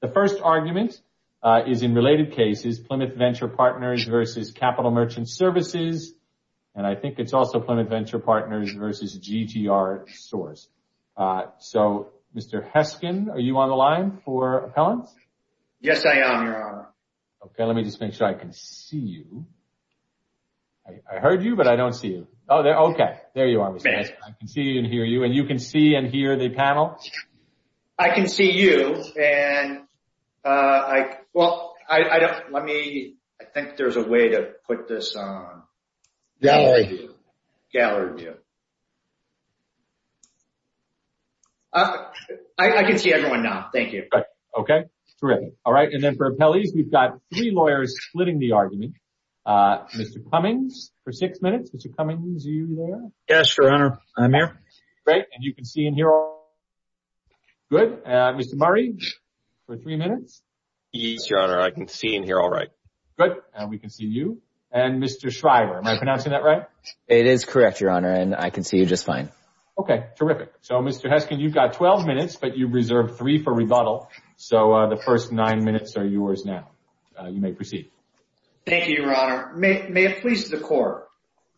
The first argument is in related cases Plymouth Venture Partners v. Capital Merchant Services and I think it's also Plymouth Venture Partners v. GTR Source. Mr. Heskin, are you on the line for appellants? Yes, I am, Your Honor. Let me just make sure I can see you. I heard you, but I don't see you. There you are, Mr. Heskin. I can see and hear you. And you can see and hear the panel? I can see you. I think there's a way to put this on. Gallery view. Gallery view. I can see everyone now. Thank you. Okay. Terrific. And then for appellees, we've got three lawyers splitting the argument. Mr. Cummings, for six minutes. Mr. Cummings, are you there? Yes, Your Honor. I'm here. Great. And you can see and hear all? Good. Mr. Murray, for three minutes. Yes, Your Honor. I can see and hear all right. Good. And we can see you. And Mr. Shriver, am I pronouncing that right? It is correct, Your Honor. And I can see you just fine. Okay. Terrific. So, Mr. Heskin, you've got 12 minutes, but you've reserved three for rebuttal. So, the first nine minutes are yours now. You may proceed. Thank you, Your Honor. May it please the court.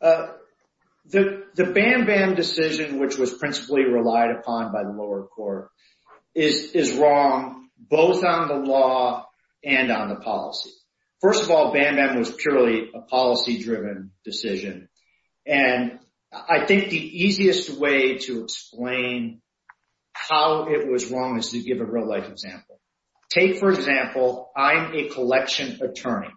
The Bam-Bam decision, which was principally relied upon by the lower court, is wrong both on the law and on the policy. First of all, Bam-Bam was purely a policy-driven decision. And I think the easiest way to explain how it was wrong is to give a real-life example. Take, for example, I'm a collection attorney.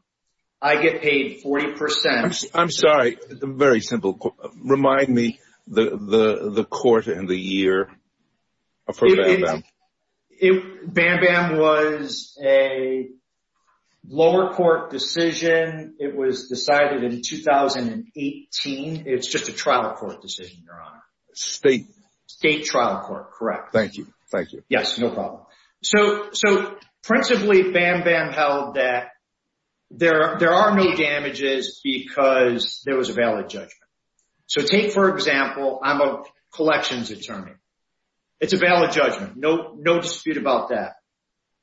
I get paid 40 percent… I'm sorry. Very simple. Remind me the court and the year for Bam-Bam. Bam-Bam was a lower court decision. It was decided in 2018. It's just a trial court decision, Your Honor. State… State trial court, correct. Thank you. Thank you. So, principally, Bam-Bam held that there are no damages because there was a valid judgment. So, take, for example, I'm a collections attorney. It's a valid judgment. No dispute about that.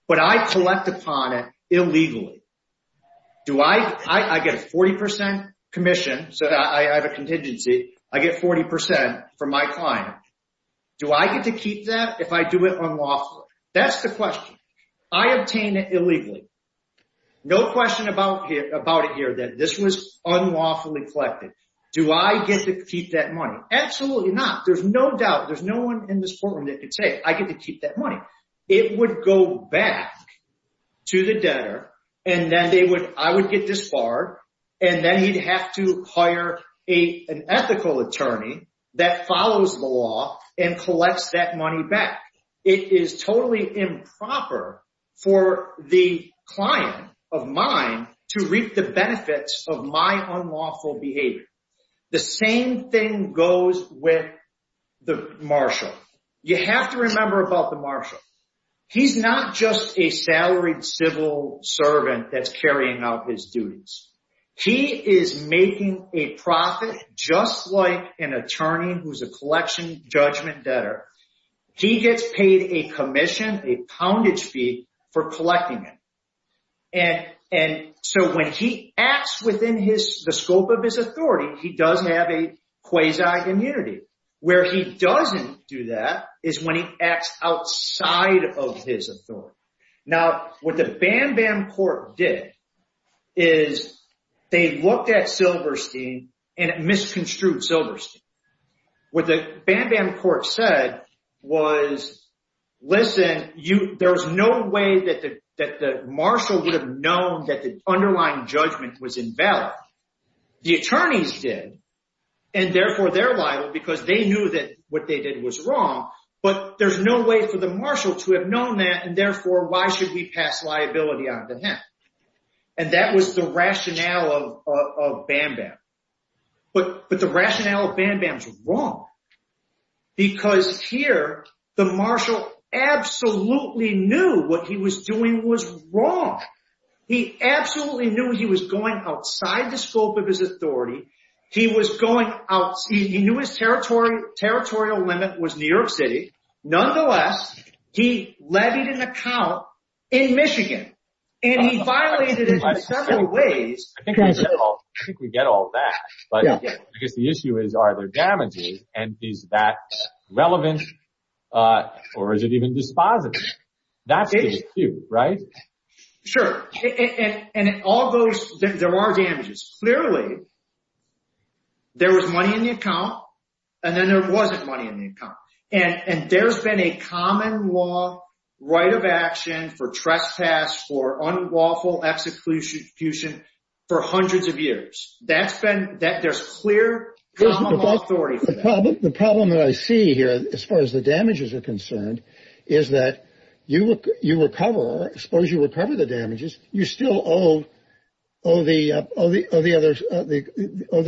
But I collect upon it illegally. Do I… I get a 40 percent commission. So, I have a contingency. I get 40 percent from my client. Do I get to keep that if I do it unlawfully? That's the question. I obtain it illegally. No question about it here that this was unlawfully collected. Do I get to keep that money? Absolutely not. There's no doubt. There's no one in this courtroom that could say, I get to keep that money. It would go back to the debtor, and then they would… I would get disbarred, and then he'd have to hire an ethical attorney that follows the law and collects that money back. It is totally improper for the client of mine to reap the benefits of my unlawful behavior. The same thing goes with the marshal. You have to remember about the marshal. He's not just a salaried civil servant that's carrying out his duties. He is making a profit just like an attorney who's a collection judgment debtor. He gets paid a commission, a poundage fee, for collecting it. And so when he acts within the scope of his authority, he does have a quasi immunity. Where he doesn't do that is when he acts outside of his authority. Now, what the Bam Bam Court did is they looked at Silverstein and it misconstrued Silverstein. What the Bam Bam Court said was, listen, there's no way that the marshal would have known that the underlying judgment was invalid. The attorneys did, and therefore they're liable because they knew that what they did was wrong. But there's no way for the marshal to have known that, and therefore why should we pass liability on to him? And that was the rationale of Bam Bam. But the rationale of Bam Bam is wrong. Because here, the marshal absolutely knew what he was doing was wrong. He absolutely knew he was going outside the scope of his authority. He knew his territorial limit was New York City. Nonetheless, he levied an account in Michigan, and he violated it in several ways. I think we get all that, but I guess the issue is, are there damages, and is that relevant, or is it even dispositive? That's the issue, right? Sure. And it all goes, there are damages. Clearly, there was money in the account, and then there wasn't money in the account. And there's been a common law right of action for trespass, for unlawful execution for hundreds of years. There's clear common law authority for that. The problem that I see here, as far as the damages are concerned, is that you recover, as far as you recover the damages, you still owe the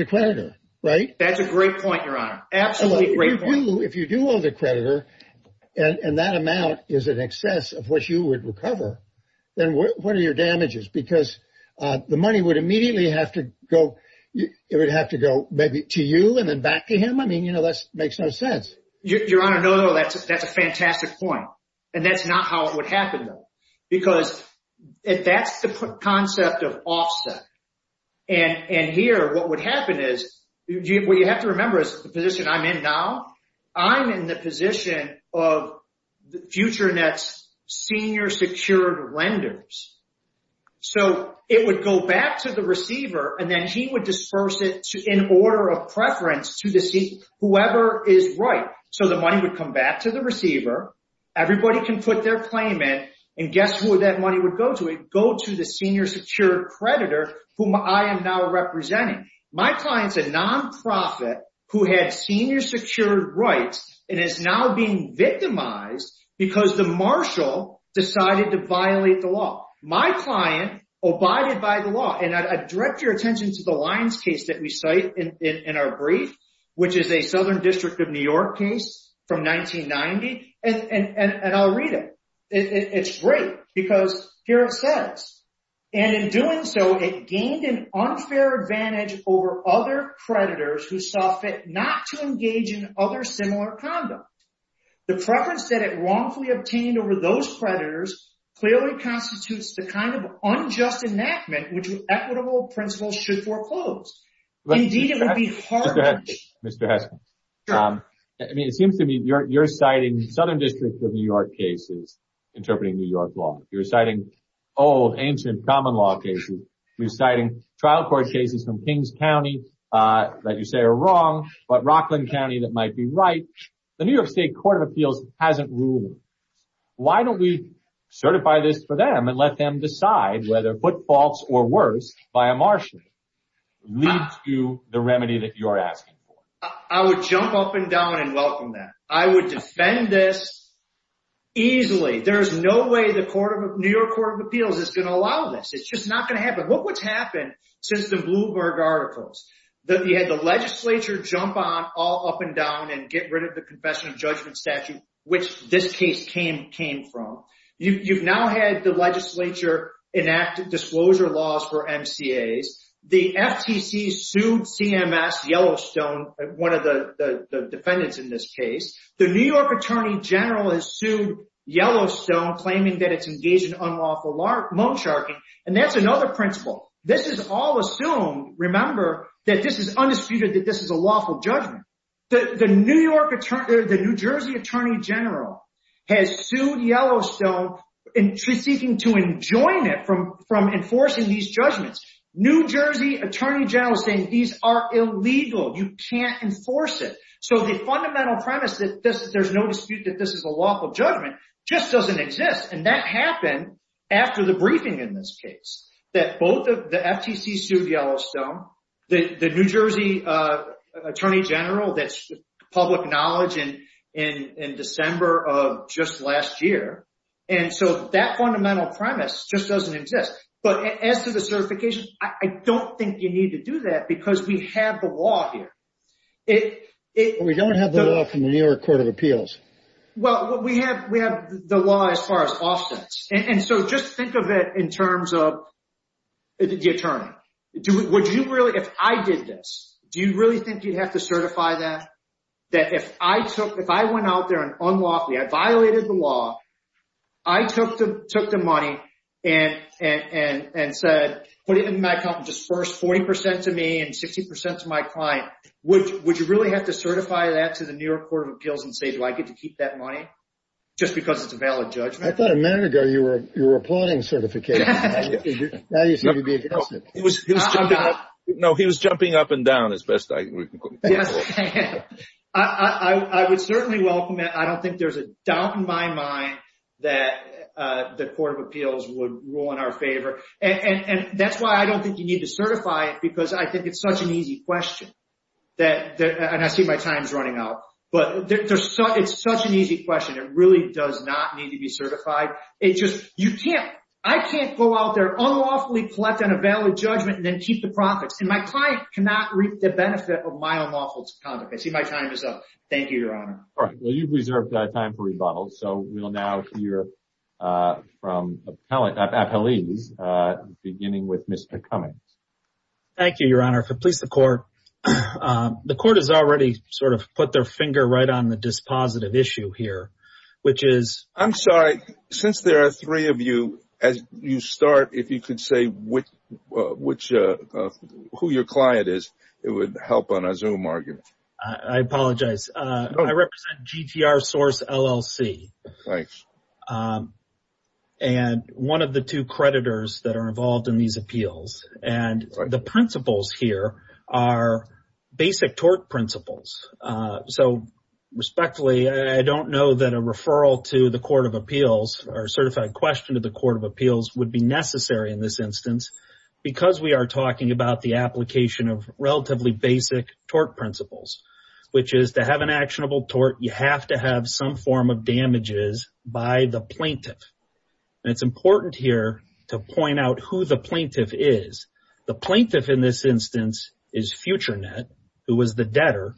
creditor, right? That's a great point, Your Honor. Absolutely great point. If you still owe the creditor, and that amount is in excess of what you would recover, then what are your damages? Because the money would immediately have to go, it would have to go maybe to you, and then back to him? I mean, you know, that makes no sense. Your Honor, no, that's a fantastic point. And that's not how it would happen, though. Because that's the concept of offset. And here, what would happen is, what you have to remember is the position I'm in now. I'm in the position of FutureNet's senior secured lenders. So it would go back to the receiver, and then he would disperse it in order of preference to whoever is right. So the money would come back to the receiver. Everybody can put their claim in. And guess who that money would go to? It would go to the senior secured creditor, whom I am now representing. My client's a nonprofit who had senior secured rights and is now being victimized because the marshal decided to violate the law. My client abided by the law. And I'd direct your attention to the Lyons case that we cite in our brief, which is a Southern District of New York case from 1990. And I'll read it. It's great, because here it says, And in doing so, it gained an unfair advantage over other creditors who saw fit not to engage in other similar conduct. The preference that it wrongfully obtained over those creditors clearly constitutes the kind of unjust enactment which equitable principles should foreclose. Indeed, it would be harsh. Mr. Heskens, it seems to me you're citing Southern District of New York cases interpreting New York law. You're citing old, ancient common law cases. You're citing trial court cases from Kings County that you say are wrong, but Rockland County that might be right. The New York State Court of Appeals hasn't ruled. Why don't we certify this for them and let them decide whether foot faults or worse by a marshal leads to the remedy that you're asking for? I would jump up and down and welcome that. I would defend this easily. There's no way the New York Court of Appeals is going to allow this. It's just not going to happen. Look what's happened since the Bloomberg articles. You had the legislature jump on all up and down and get rid of the confession of judgment statute, which this case came from. You've now had the legislature enact disclosure laws for MCAs. The FTC sued CMS Yellowstone, one of the defendants in this case. The New York Attorney General has sued Yellowstone claiming that it's engaged in unlawful moansharking, and that's another principle. This is all assumed. Remember that this is undisputed that this is a lawful judgment. The New Jersey Attorney General has sued Yellowstone seeking to enjoin it from enforcing these judgments. New Jersey Attorney General is saying these are illegal. You can't enforce it. The fundamental premise that there's no dispute that this is a lawful judgment just doesn't exist. That happened after the briefing in this case. The FTC sued Yellowstone. The New Jersey Attorney General, that's public knowledge in December of just last year. That fundamental premise just doesn't exist. As to the certification, I don't think you need to do that because we have the law here. We don't have the law from the New York Court of Appeals. We have the law as far as offense. Just think of it in terms of the attorney. If I did this, do you really think you'd have to certify that? If I went out there and unlawfully, I violated the law, I took the money and said, put it in my account and disbursed 40% to me and 60% to my client, would you really have to certify that to the New York Court of Appeals and say, do I get to keep that money just because it's a valid judgment? I thought a minute ago you were applauding certification. Now you seem to be aghast. No, he was jumping up and down as best I could. I would certainly welcome it. I don't think there's a doubt in my mind that the Court of Appeals would rule in our favor. That's why I don't think you need to certify it because I think it's such an easy question. I see my time is running out. It's such an easy question. It really does not need to be certified. I can't go out there, unlawfully collect on a valid judgment and then keep the profits. My client cannot reap the benefit of my unlawful conduct. I see my time is up. Thank you, Your Honor. All right, well, you've reserved time for rebuttals. We'll now hear from appellees, beginning with Mr. Cummings. Thank you, Your Honor. If it pleases the Court, the Court has already sort of put their finger right on the dispositive issue here, which is… I'm sorry. Since there are three of you, as you start, if you could say who your client is, it would help on a Zoom argument. I apologize. I represent GTR Source LLC. Right. And one of the two creditors that are involved in these appeals. And the principles here are basic tort principles. So, respectfully, I don't know that a referral to the Court of Appeals or a certified question to the Court of Appeals would be necessary in this instance because we are talking about the application of relatively basic tort principles, which is to have an actionable tort, you have to have some form of damages by the plaintiff. And it's important here to point out who the plaintiff is. The plaintiff in this instance is FutureNet, who was the debtor.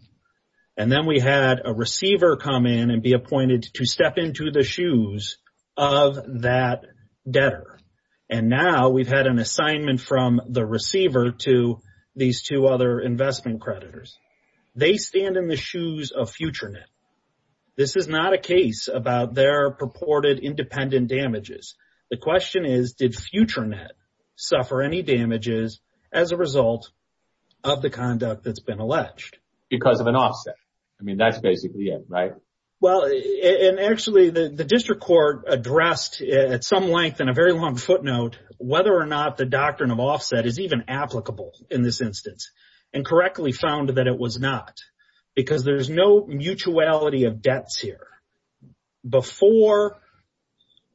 And then we had a receiver come in and be appointed to step into the shoes of that debtor. And now we've had an assignment from the receiver to these two other investment creditors. They stand in the shoes of FutureNet. This is not a case about their purported independent damages. The question is, did FutureNet suffer any damages as a result of the conduct that's been alleged? Because of an offset. I mean, that's basically it, right? Well, and actually the district court addressed at some length in a very long footnote whether or not the doctrine of offset is even applicable in this instance and correctly found that it was not. Because there's no mutuality of debts here. Before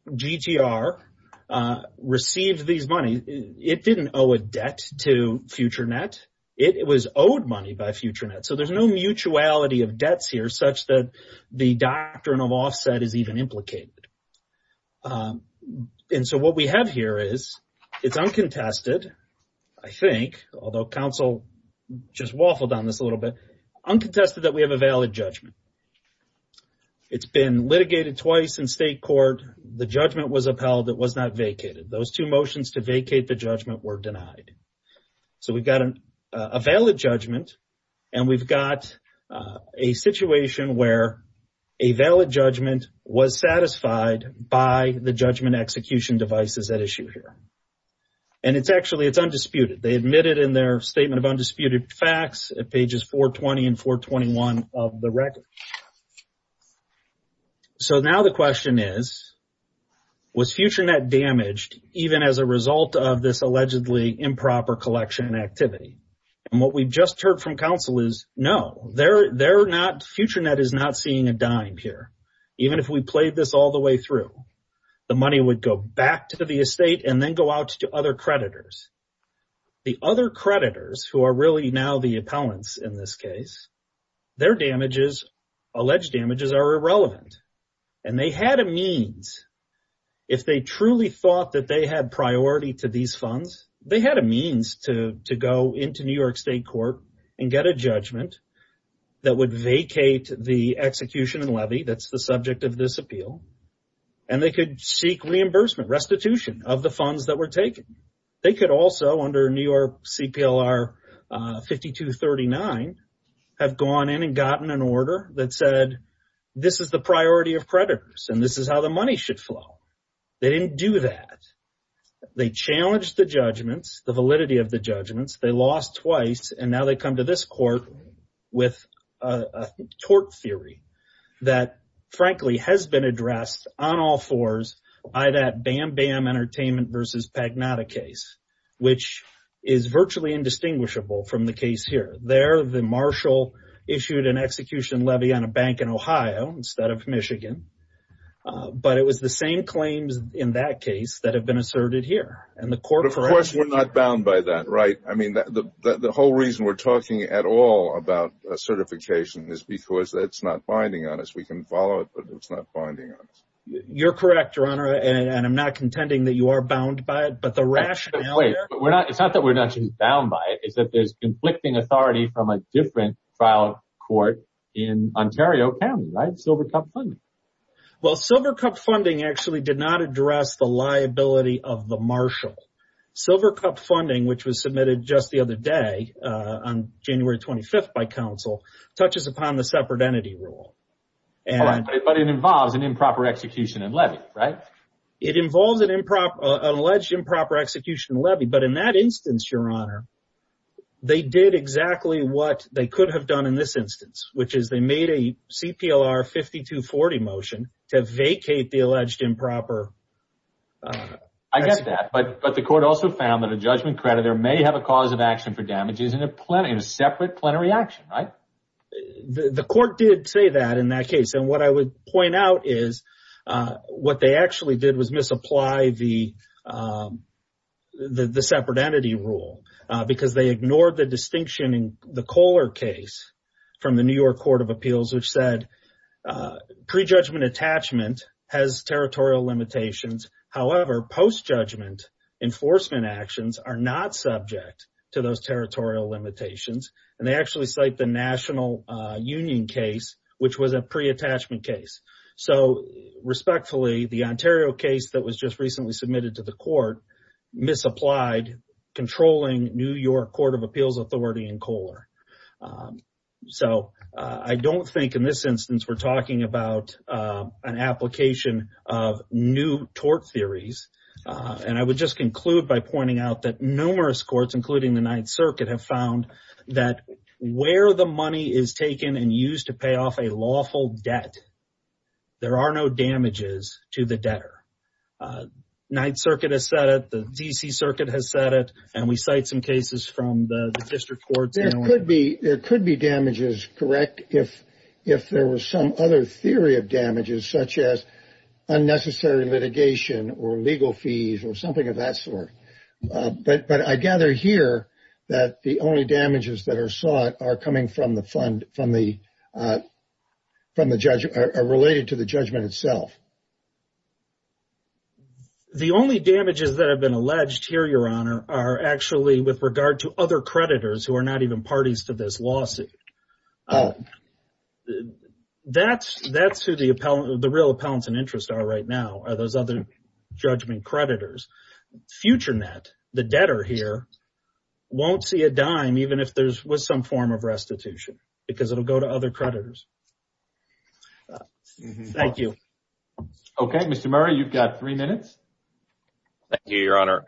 GTR received these money, it didn't owe a debt to FutureNet. It was owed money by FutureNet. So there's no mutuality of debts here such that the doctrine of offset is even implicated. And so what we have here is, it's uncontested, I think, although counsel just waffled on this a little bit, uncontested that we have a valid judgment. It's been litigated twice in state court. The judgment was upheld. It was not vacated. Those two motions to vacate the judgment were denied. So we've got a valid judgment and we've got a situation where a valid judgment was satisfied by the judgment execution devices at issue here. And it's actually, it's undisputed. They admitted in their statement of undisputed facts at pages 420 and 421 of the record. So now the question is, was FutureNet damaged even as a result of this allegedly improper collection activity? And what we've just heard from counsel is, no, they're not, FutureNet is not seeing a dime here. Even if we played this all the way through, the money would go back to the estate and then go out to other creditors. The other creditors, who are really now the appellants in this case, their damages, alleged damages, are irrelevant. And they had a means, if they truly thought that they had priority to these funds, they had a means to go into New York State court and get a judgment that would vacate the execution and levy that's the subject of this appeal. And they could seek reimbursement, restitution of the funds that were taken. They also, under New York CPLR 5239, have gone in and gotten an order that said, this is the priority of creditors and this is how the money should flow. They didn't do that. They challenged the judgments, the validity of the judgments. They lost twice, and now they come to this court with a tort theory that, frankly, has been addressed on all fours by that Bam Bam Entertainment v. Pagnotta case, which is virtually indistinguishable from the case here. There, the marshal issued an execution levy on a bank in Ohio instead of Michigan. But it was the same claims in that case that have been asserted here. But of course, we're not bound by that, right? I mean, the whole reason we're talking at all about certification is because that's not binding on us. We can follow it, but it's not binding on us. You're correct, Your Honor, and I'm not contending that you are bound by it, but the rationale… But wait, it's not that we're not bound by it. It's that there's conflicting authority from a different trial court in Ontario County, right? Silver Cup funding. Well, Silver Cup funding actually did not address the liability of the marshal. Silver Cup funding, which was submitted just the other day on January 25th by counsel, touches upon the separate entity rule. But it involves an improper execution and levy, right? It involves an alleged improper execution and levy, but in that instance, Your Honor, they did exactly what they could have done in this instance, which is they made a CPLR 5240 motion to vacate the alleged improper… I get that, but the court also found that a judgment creditor may have a cause of action for damages in a separate plenary action, right? The court did say that in that case, and what I would point out is what they actually did was misapply the separate entity rule because they ignored the distinction in the Kohler case from the New York Court of Appeals, which said pre-judgment attachment has territorial limitations. However, post-judgment enforcement actions are not subject to those territorial limitations. And they actually cite the National Union case, which was a pre-attachment case. So, respectfully, the Ontario case that was just recently submitted to the court misapplied controlling New York Court of Appeals authority in Kohler. So, I don't think in this instance we're talking about an application of new tort theories. And I would just conclude by pointing out that numerous courts, including the Ninth Circuit, have found that where the money is taken and used to pay off a lawful debt there are no damages to the debtor. Ninth Circuit has said it, the D.C. Circuit has said it, and we cite some cases from the district courts. There could be damages, correct, if there were some other theory of damages such as unnecessary litigation or legal fees or something of that sort. But I gather here that the only damages that are sought are related to the judgment itself. The only damages that have been alleged here, Your Honor, are actually with regard to other creditors who are not even parties to this lawsuit. That's who the real appellants in interest are right now, are those other judgment creditors. FutureNet, the debtor here, won't see a dime even if there was some form of restitution because it will go to other creditors. Thank you. Okay, Mr. Murray, you've got three minutes. Thank you, Your Honor.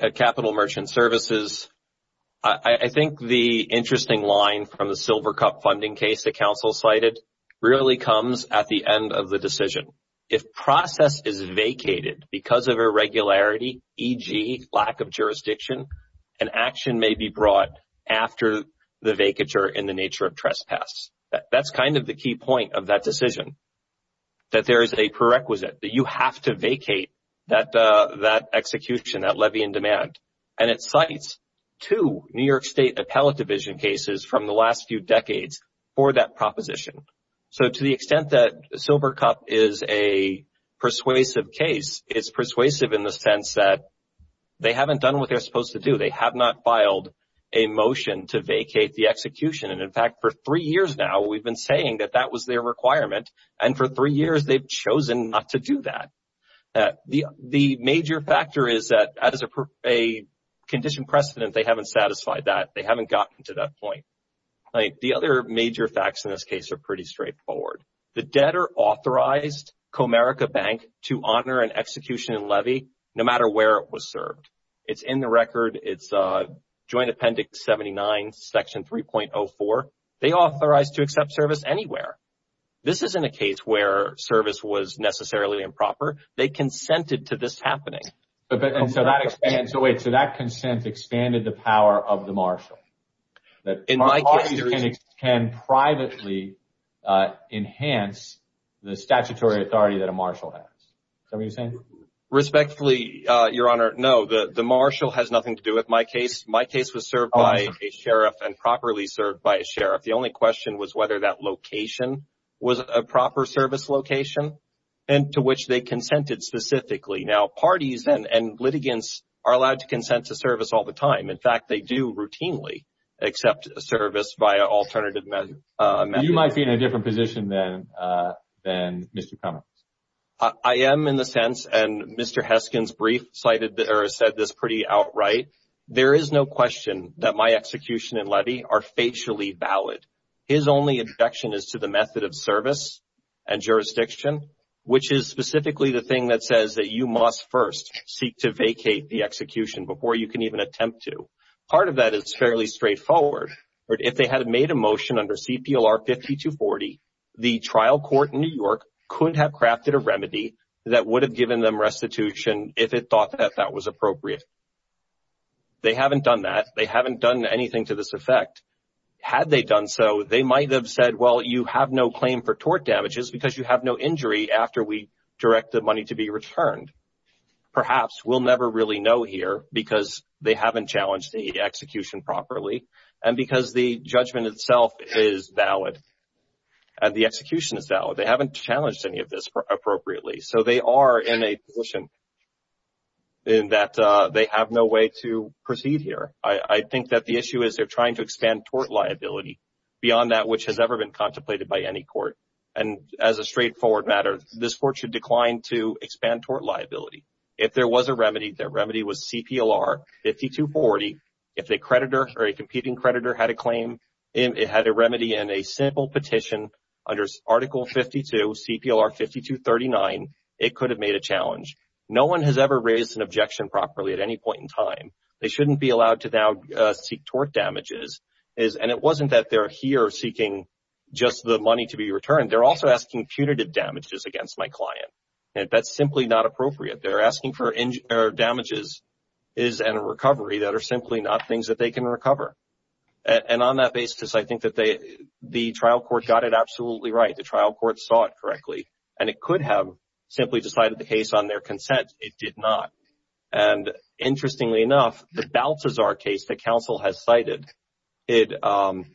At Capital Merchant Services, I think the interesting line from the Silver Cup funding case that counsel cited really comes at the end of the decision. If process is vacated because of irregularity, e.g., lack of jurisdiction, an action may be brought after the vacature in the nature of trespass. That's kind of the key point of that decision, that there is a prerequisite, that you have to vacate that execution, that levy in demand. And it cites two New York State appellate division cases from the last few decades for that proposition. So, to the extent that Silver Cup is a persuasive case, it's persuasive in the sense that they haven't done what they're supposed to do. They have not filed a motion to vacate the execution. And, in fact, for three years now, we've been saying that that was their requirement. And for three years, they've chosen not to do that. The major factor is that as a condition precedent, they haven't satisfied that. They haven't gotten to that point. The other major facts in this case are pretty straightforward. The debtor authorized Comerica Bank to honor an execution and levy no matter where it was served. It's in the record. It's Joint Appendix 79, Section 3.04. They authorized to accept service anywhere. This isn't a case where service was necessarily improper. They consented to this happening. So, that consent expanded the power of the marshal. Parties can privately enhance the statutory authority that a marshal has. Is that what you're saying? Respectfully, Your Honor, no. The marshal has nothing to do with my case. My case was served by a sheriff and properly served by a sheriff. The only question was whether that location was a proper service location and to which they consented specifically. Now, parties and litigants are allowed to consent to service all the time. In fact, they do routinely accept service via alternative methods. You might be in a different position than Mr. Comerica. I am in the sense, and Mr. Heskin's brief cited or said this pretty outright. There is no question that my execution and levy are facially valid. His only objection is to the method of service and jurisdiction, which is specifically the thing that says that you must first seek to vacate the execution before you can even attempt to. Part of that is fairly straightforward. If they had made a motion under CPLR 5240, the trial court in New York could have crafted a remedy that would have given them restitution if it thought that that was appropriate. They haven't done that. They haven't done anything to this effect. Had they done so, they might have said, well, you have no claim for tort damages because you have no injury after we direct the money to be returned. Perhaps we'll never really know here because they haven't challenged the execution properly and because the judgment itself is valid and the execution is valid. They haven't challenged any of this appropriately. So they are in a position in that they have no way to proceed here. I think that the issue is they're trying to expand tort liability beyond that which has ever been contemplated by any court. And as a straightforward matter, this court should decline to expand tort liability. If there was a remedy, the remedy was CPLR 5240. If a creditor or a competing creditor had a claim, it had a remedy in a simple petition under Article 52, CPLR 5239, it could have made a challenge. No one has ever raised an objection properly at any point in time. They shouldn't be allowed to now seek tort damages. And it wasn't that they're here seeking just the money to be returned. They're also asking punitive damages against my client. That's simply not appropriate. They're asking for damages and a recovery that are simply not things that they can recover. And on that basis, I think that the trial court got it absolutely right. The trial court saw it correctly. And it could have simply decided the case on their consent. It did not. And interestingly enough, the Balthazar case that counsel has cited, it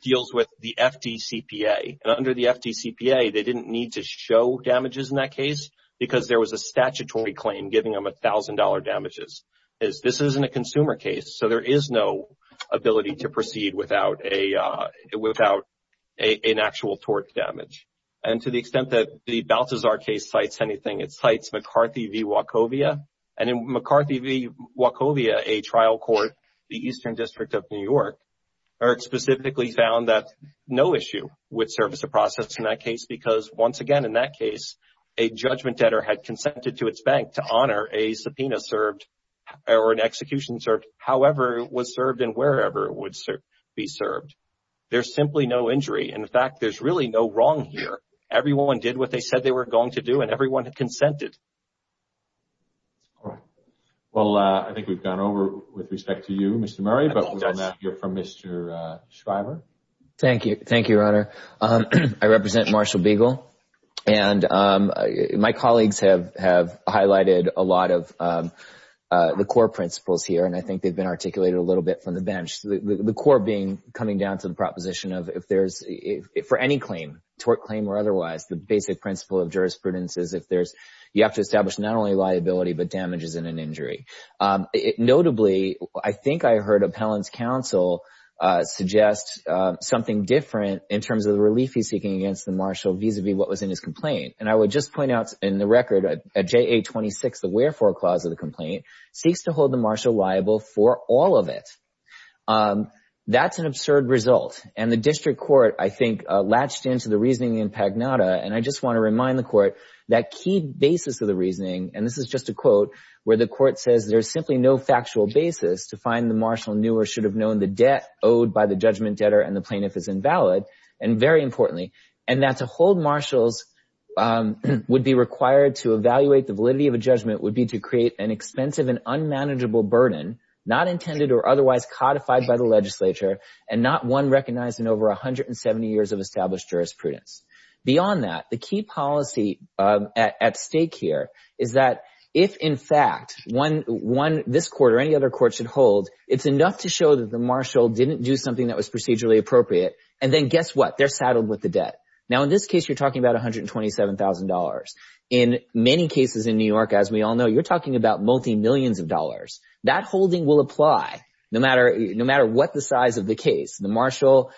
deals with the FDCPA. And under the FDCPA, they didn't need to show damages in that case because there was a statutory claim giving them $1,000 damages. This isn't a consumer case, so there is no ability to proceed without an actual tort damage. And to the extent that the Balthazar case cites anything, it cites McCarthy v. Wachovia. And in McCarthy v. Wachovia, a trial court, the Eastern District of New York, specifically found that no issue would serve as a process in that case because once again in that case, a judgment debtor had consented to its bank to honor a subpoena served or an execution served, however it was served and wherever it would be served. There's simply no injury. In fact, there's really no wrong here. Everyone did what they said they were going to do and everyone consented. All right. Well, I think we've gone over with respect to you, Mr. Murray, but we'll now hear from Mr. Shriver. Thank you. Thank you, Your Honor. I represent Marshall Beagle. And my colleagues have highlighted a lot of the core principles here, and I think they've been articulated a little bit from the bench. The core being coming down to the proposition of if there's, for any claim, tort claim or otherwise, the basic principle of jurisprudence is if there's, you have to establish not only liability but damages in an injury. Notably, I think I heard Appellant's counsel suggest something different in terms of the relief he's seeking against the marshal vis-a-vis what was in his complaint. And I would just point out in the record, at JA-26, the wherefore clause of the complaint seeks to hold the marshal liable for all of it. That's an absurd result. And the district court, I think, latched into the reasoning in Pagnotta, and I just want to remind the court that key basis of the reasoning, and this is just a quote, where the court says there's simply no factual basis to find the marshal knew or should have known the debt owed by the judgment debtor and the plaintiff is invalid, and very importantly, and that to hold marshals would be required to evaluate the validity of a judgment would be to create an expensive and unmanageable burden not intended or otherwise codified by the legislature and not one recognized in over 170 years of established jurisprudence. Beyond that, the key policy at stake here is that if, in fact, this court or any other court should hold, it's enough to show that the marshal didn't do something that was procedurally appropriate, and then guess what? They're saddled with the debt. Now, in this case, you're talking about $127,000. In many cases in New York, as we all know, you're talking about multi-millions of dollars. That holding will apply no matter what the size of the case. The marshal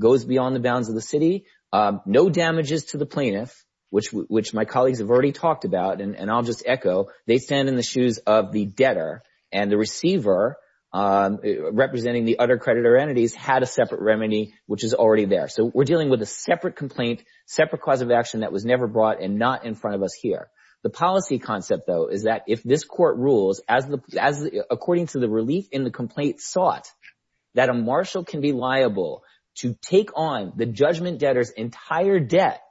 goes beyond the bounds of the city. No damages to the plaintiff, which my colleagues have already talked about, and I'll just echo, they stand in the shoes of the debtor, and the receiver, representing the other creditor entities, had a separate remedy, which is already there. So we're dealing with a separate complaint, separate cause of action that was never brought and not in front of us here. The policy concept, though, is that if this court rules, according to the relief in the complaint sought, that a marshal can be liable to take on the judgment debtor's entire debt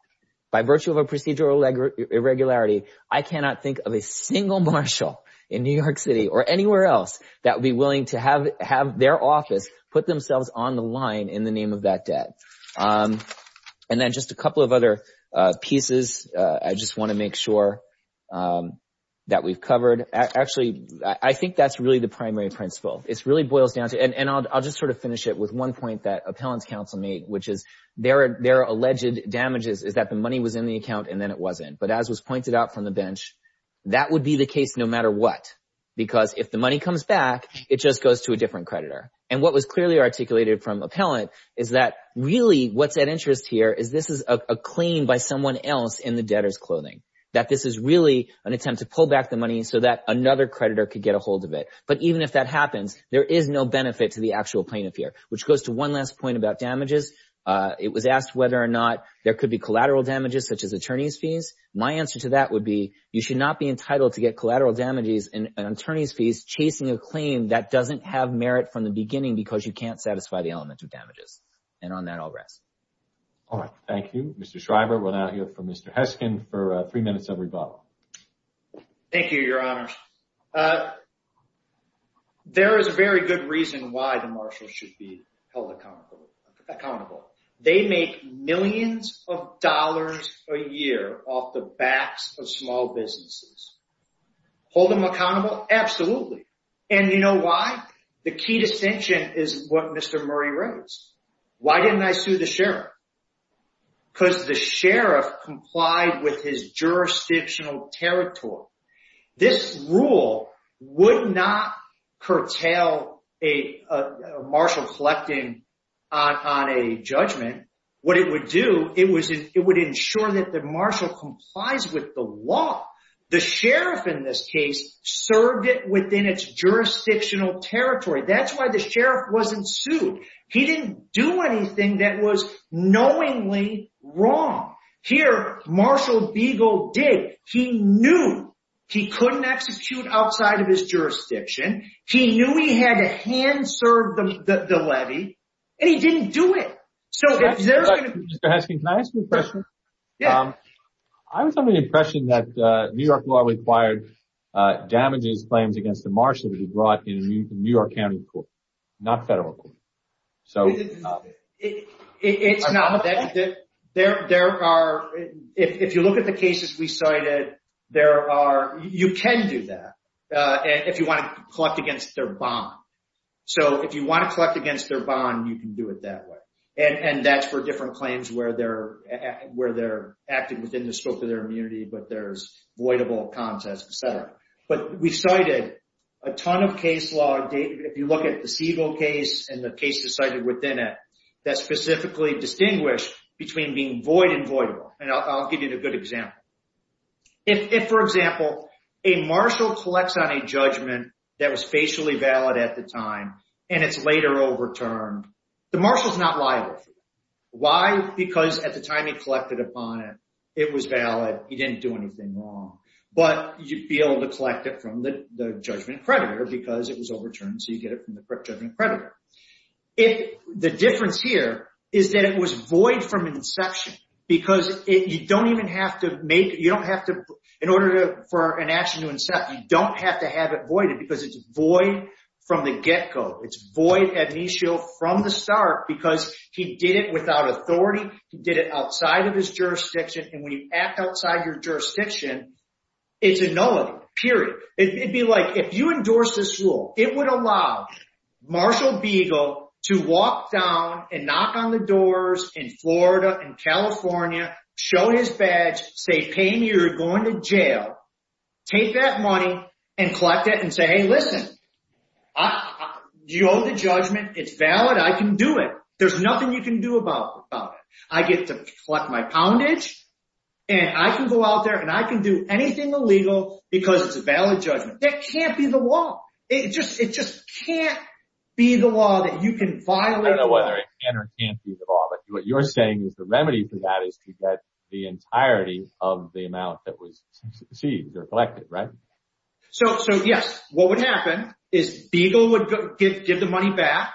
by virtue of a procedural irregularity, I cannot think of a single marshal in New York City or anywhere else that would be willing to have their office put themselves on the line in the name of that debt. And then just a couple of other pieces, I just want to make sure that we've covered. Actually, I think that's really the primary principle. It really boils down to, and I'll just sort of finish it with one point that Appellant's counsel made, which is there are alleged damages, is that the money was in the account and then it wasn't. But as was pointed out from the bench, that would be the case no matter what, because if the money comes back, it just goes to a different creditor. And what was clearly articulated from Appellant is that really what's at interest here is this is a claim by someone else in the debtor's clothing, that this is really an attempt to pull back the money so that another creditor could get a hold of it. But even if that happens, there is no benefit to the actual plaintiff here, which goes to one last point about damages. It was asked whether or not there could be collateral damages, such as attorney's fees. My answer to that would be you should not be entitled to get collateral damages and attorney's fees chasing a claim that doesn't have merit from the beginning because you can't satisfy the element of damages. And on that, I'll rest. All right. Thank you, Mr. Shriver. We'll now hear from Mr. Heskin for three minutes of rebuttal. Thank you, Your Honor. There is a very good reason why the marshals should be held accountable. They make millions of dollars a year off the backs of small businesses. Hold them accountable? Absolutely. And you know why? The key distinction is what Mr. Murray raised. Why didn't I sue the sheriff? Because the sheriff complied with his jurisdictional territory. This rule would not curtail a marshal collecting on a judgment. What it would do, it would ensure that the marshal complies with the law. The sheriff in this case served it within its jurisdictional territory. That's why the sheriff wasn't sued. He didn't do anything that was knowingly wrong. Here, Marshal Beagle did. He knew he couldn't execute outside of his jurisdiction. He knew he had to hand-serve the levy. And he didn't do it. Mr. Heskin, can I ask you a question? Yes. I was under the impression that New York law required damages claims against the marshal to be brought in a New York County court, not federal court. It's not. If you look at the cases we cited, you can do that if you want to collect against their bond. If you want to collect against their bond, you can do it that way. That's for different claims where they're acting within the scope of their immunity, but there's voidable contests, etc. We cited a ton of case law. If you look at the Siegel case and the cases cited within it that specifically distinguish between being void and voidable, and I'll give you a good example. If, for example, a marshal collects on a judgment that was facially valid at the time and it's later overturned, the marshal's not liable for that. Why? Because at the time he collected upon it, it was valid, he didn't do anything wrong. But you'd be able to collect it from the judgment creditor because it was overturned, so you get it from the correct judgment creditor. The difference here is that it was void from inception because you don't even have to make, you don't have to, in order for an action to incept, you don't have to have it voided because it's void from the get-go. It's void ad initio from the start because he did it without authority, he did it outside of his jurisdiction, and when you act outside your jurisdiction, it's a nullity, period. It'd be like, if you endorse this rule, it would allow Marshall Beagle to come in and knock on the doors in Florida and California, show his badge, say, pay me or you're going to jail, take that money and collect it and say, hey, listen, you owe the judgment, it's valid, I can do it. There's nothing you can do about it. I get to collect my poundage and I can go out there and I can do anything illegal because it's a valid judgment. That can't be the law. It just can't be the law but what you're saying is the remedy for that is to get the entirety of the amount that was seized or collected, right? Yes, what would happen is Beagle would give the money back,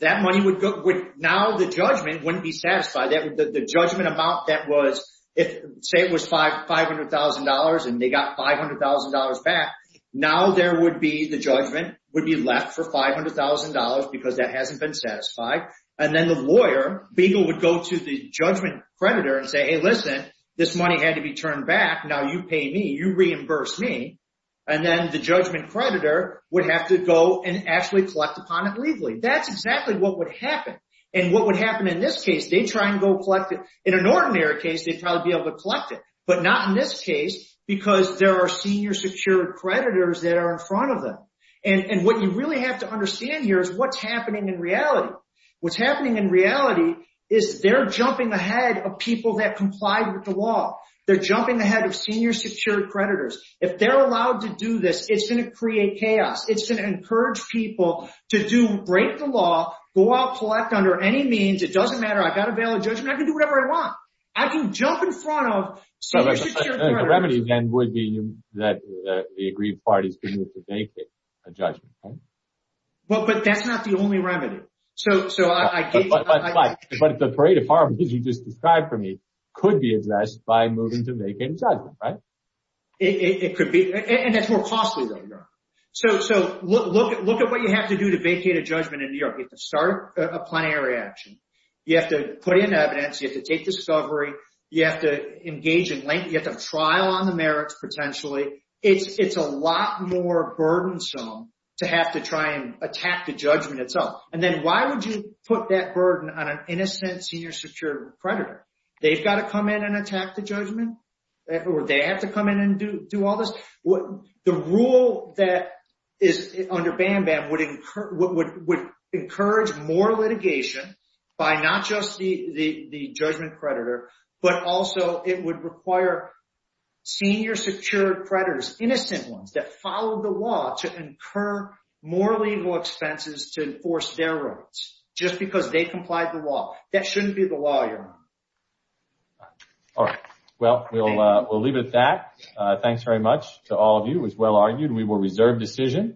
that money would go, now the judgment wouldn't be satisfied. The judgment amount that was, say it was $500,000 and they got $500,000 back, now there would be, the judgment would be left for $500,000 because then the lawyer, Beagle would go to the judgment creditor and say, hey listen, this money had to be turned back, now you pay me, you reimburse me and then the judgment creditor would have to go and actually collect upon it legally. That's exactly what would happen and what would happen in this case, they try and go collect it. In an ordinary case, they'd probably be able to collect it but not in this case because there are senior secured creditors that are in front of them and what you really have to understand here is what's happening in reality. What's happening in reality is they're jumping ahead of people that complied with the law. They're jumping ahead of senior secured creditors. If they're allowed to do this, it's going to create chaos. It's going to encourage people to break the law, go out and collect under any means, it doesn't matter, I've got a valid judgment, I can do whatever I want. I can jump in front of senior secured creditors. The remedy then would be that the agreed parties could move to vacate a judgment. But that's not the only remedy. But the parade of harm that you just described for me could be addressed by moving to vacate a judgment, right? It could be and it's more costly than that. Look at what you have to do to vacate a judgment in New York. You have to start a plenary action. You have to take defense. You have to take discovery. You have to engage in length. You have to trial on the merits potentially. It's a lot more burdensome to have to try and attack the judgment itself. And then why would you put that burden on an innocent senior secured creditor? They've got to come in and attack the judgment or they have to come in and do all this. The rule that is under BAMBAM would encourage more litigation with the judgment creditor. But also it would require senior secured creditors, innocent ones, that follow the law to incur more legal expenses to enforce their rights just because they complied with the law. That shouldn't be the law, Your Honor. All right. Well, we'll leave it at that. Thanks very much to all of you. It was well argued. We will reserve decision.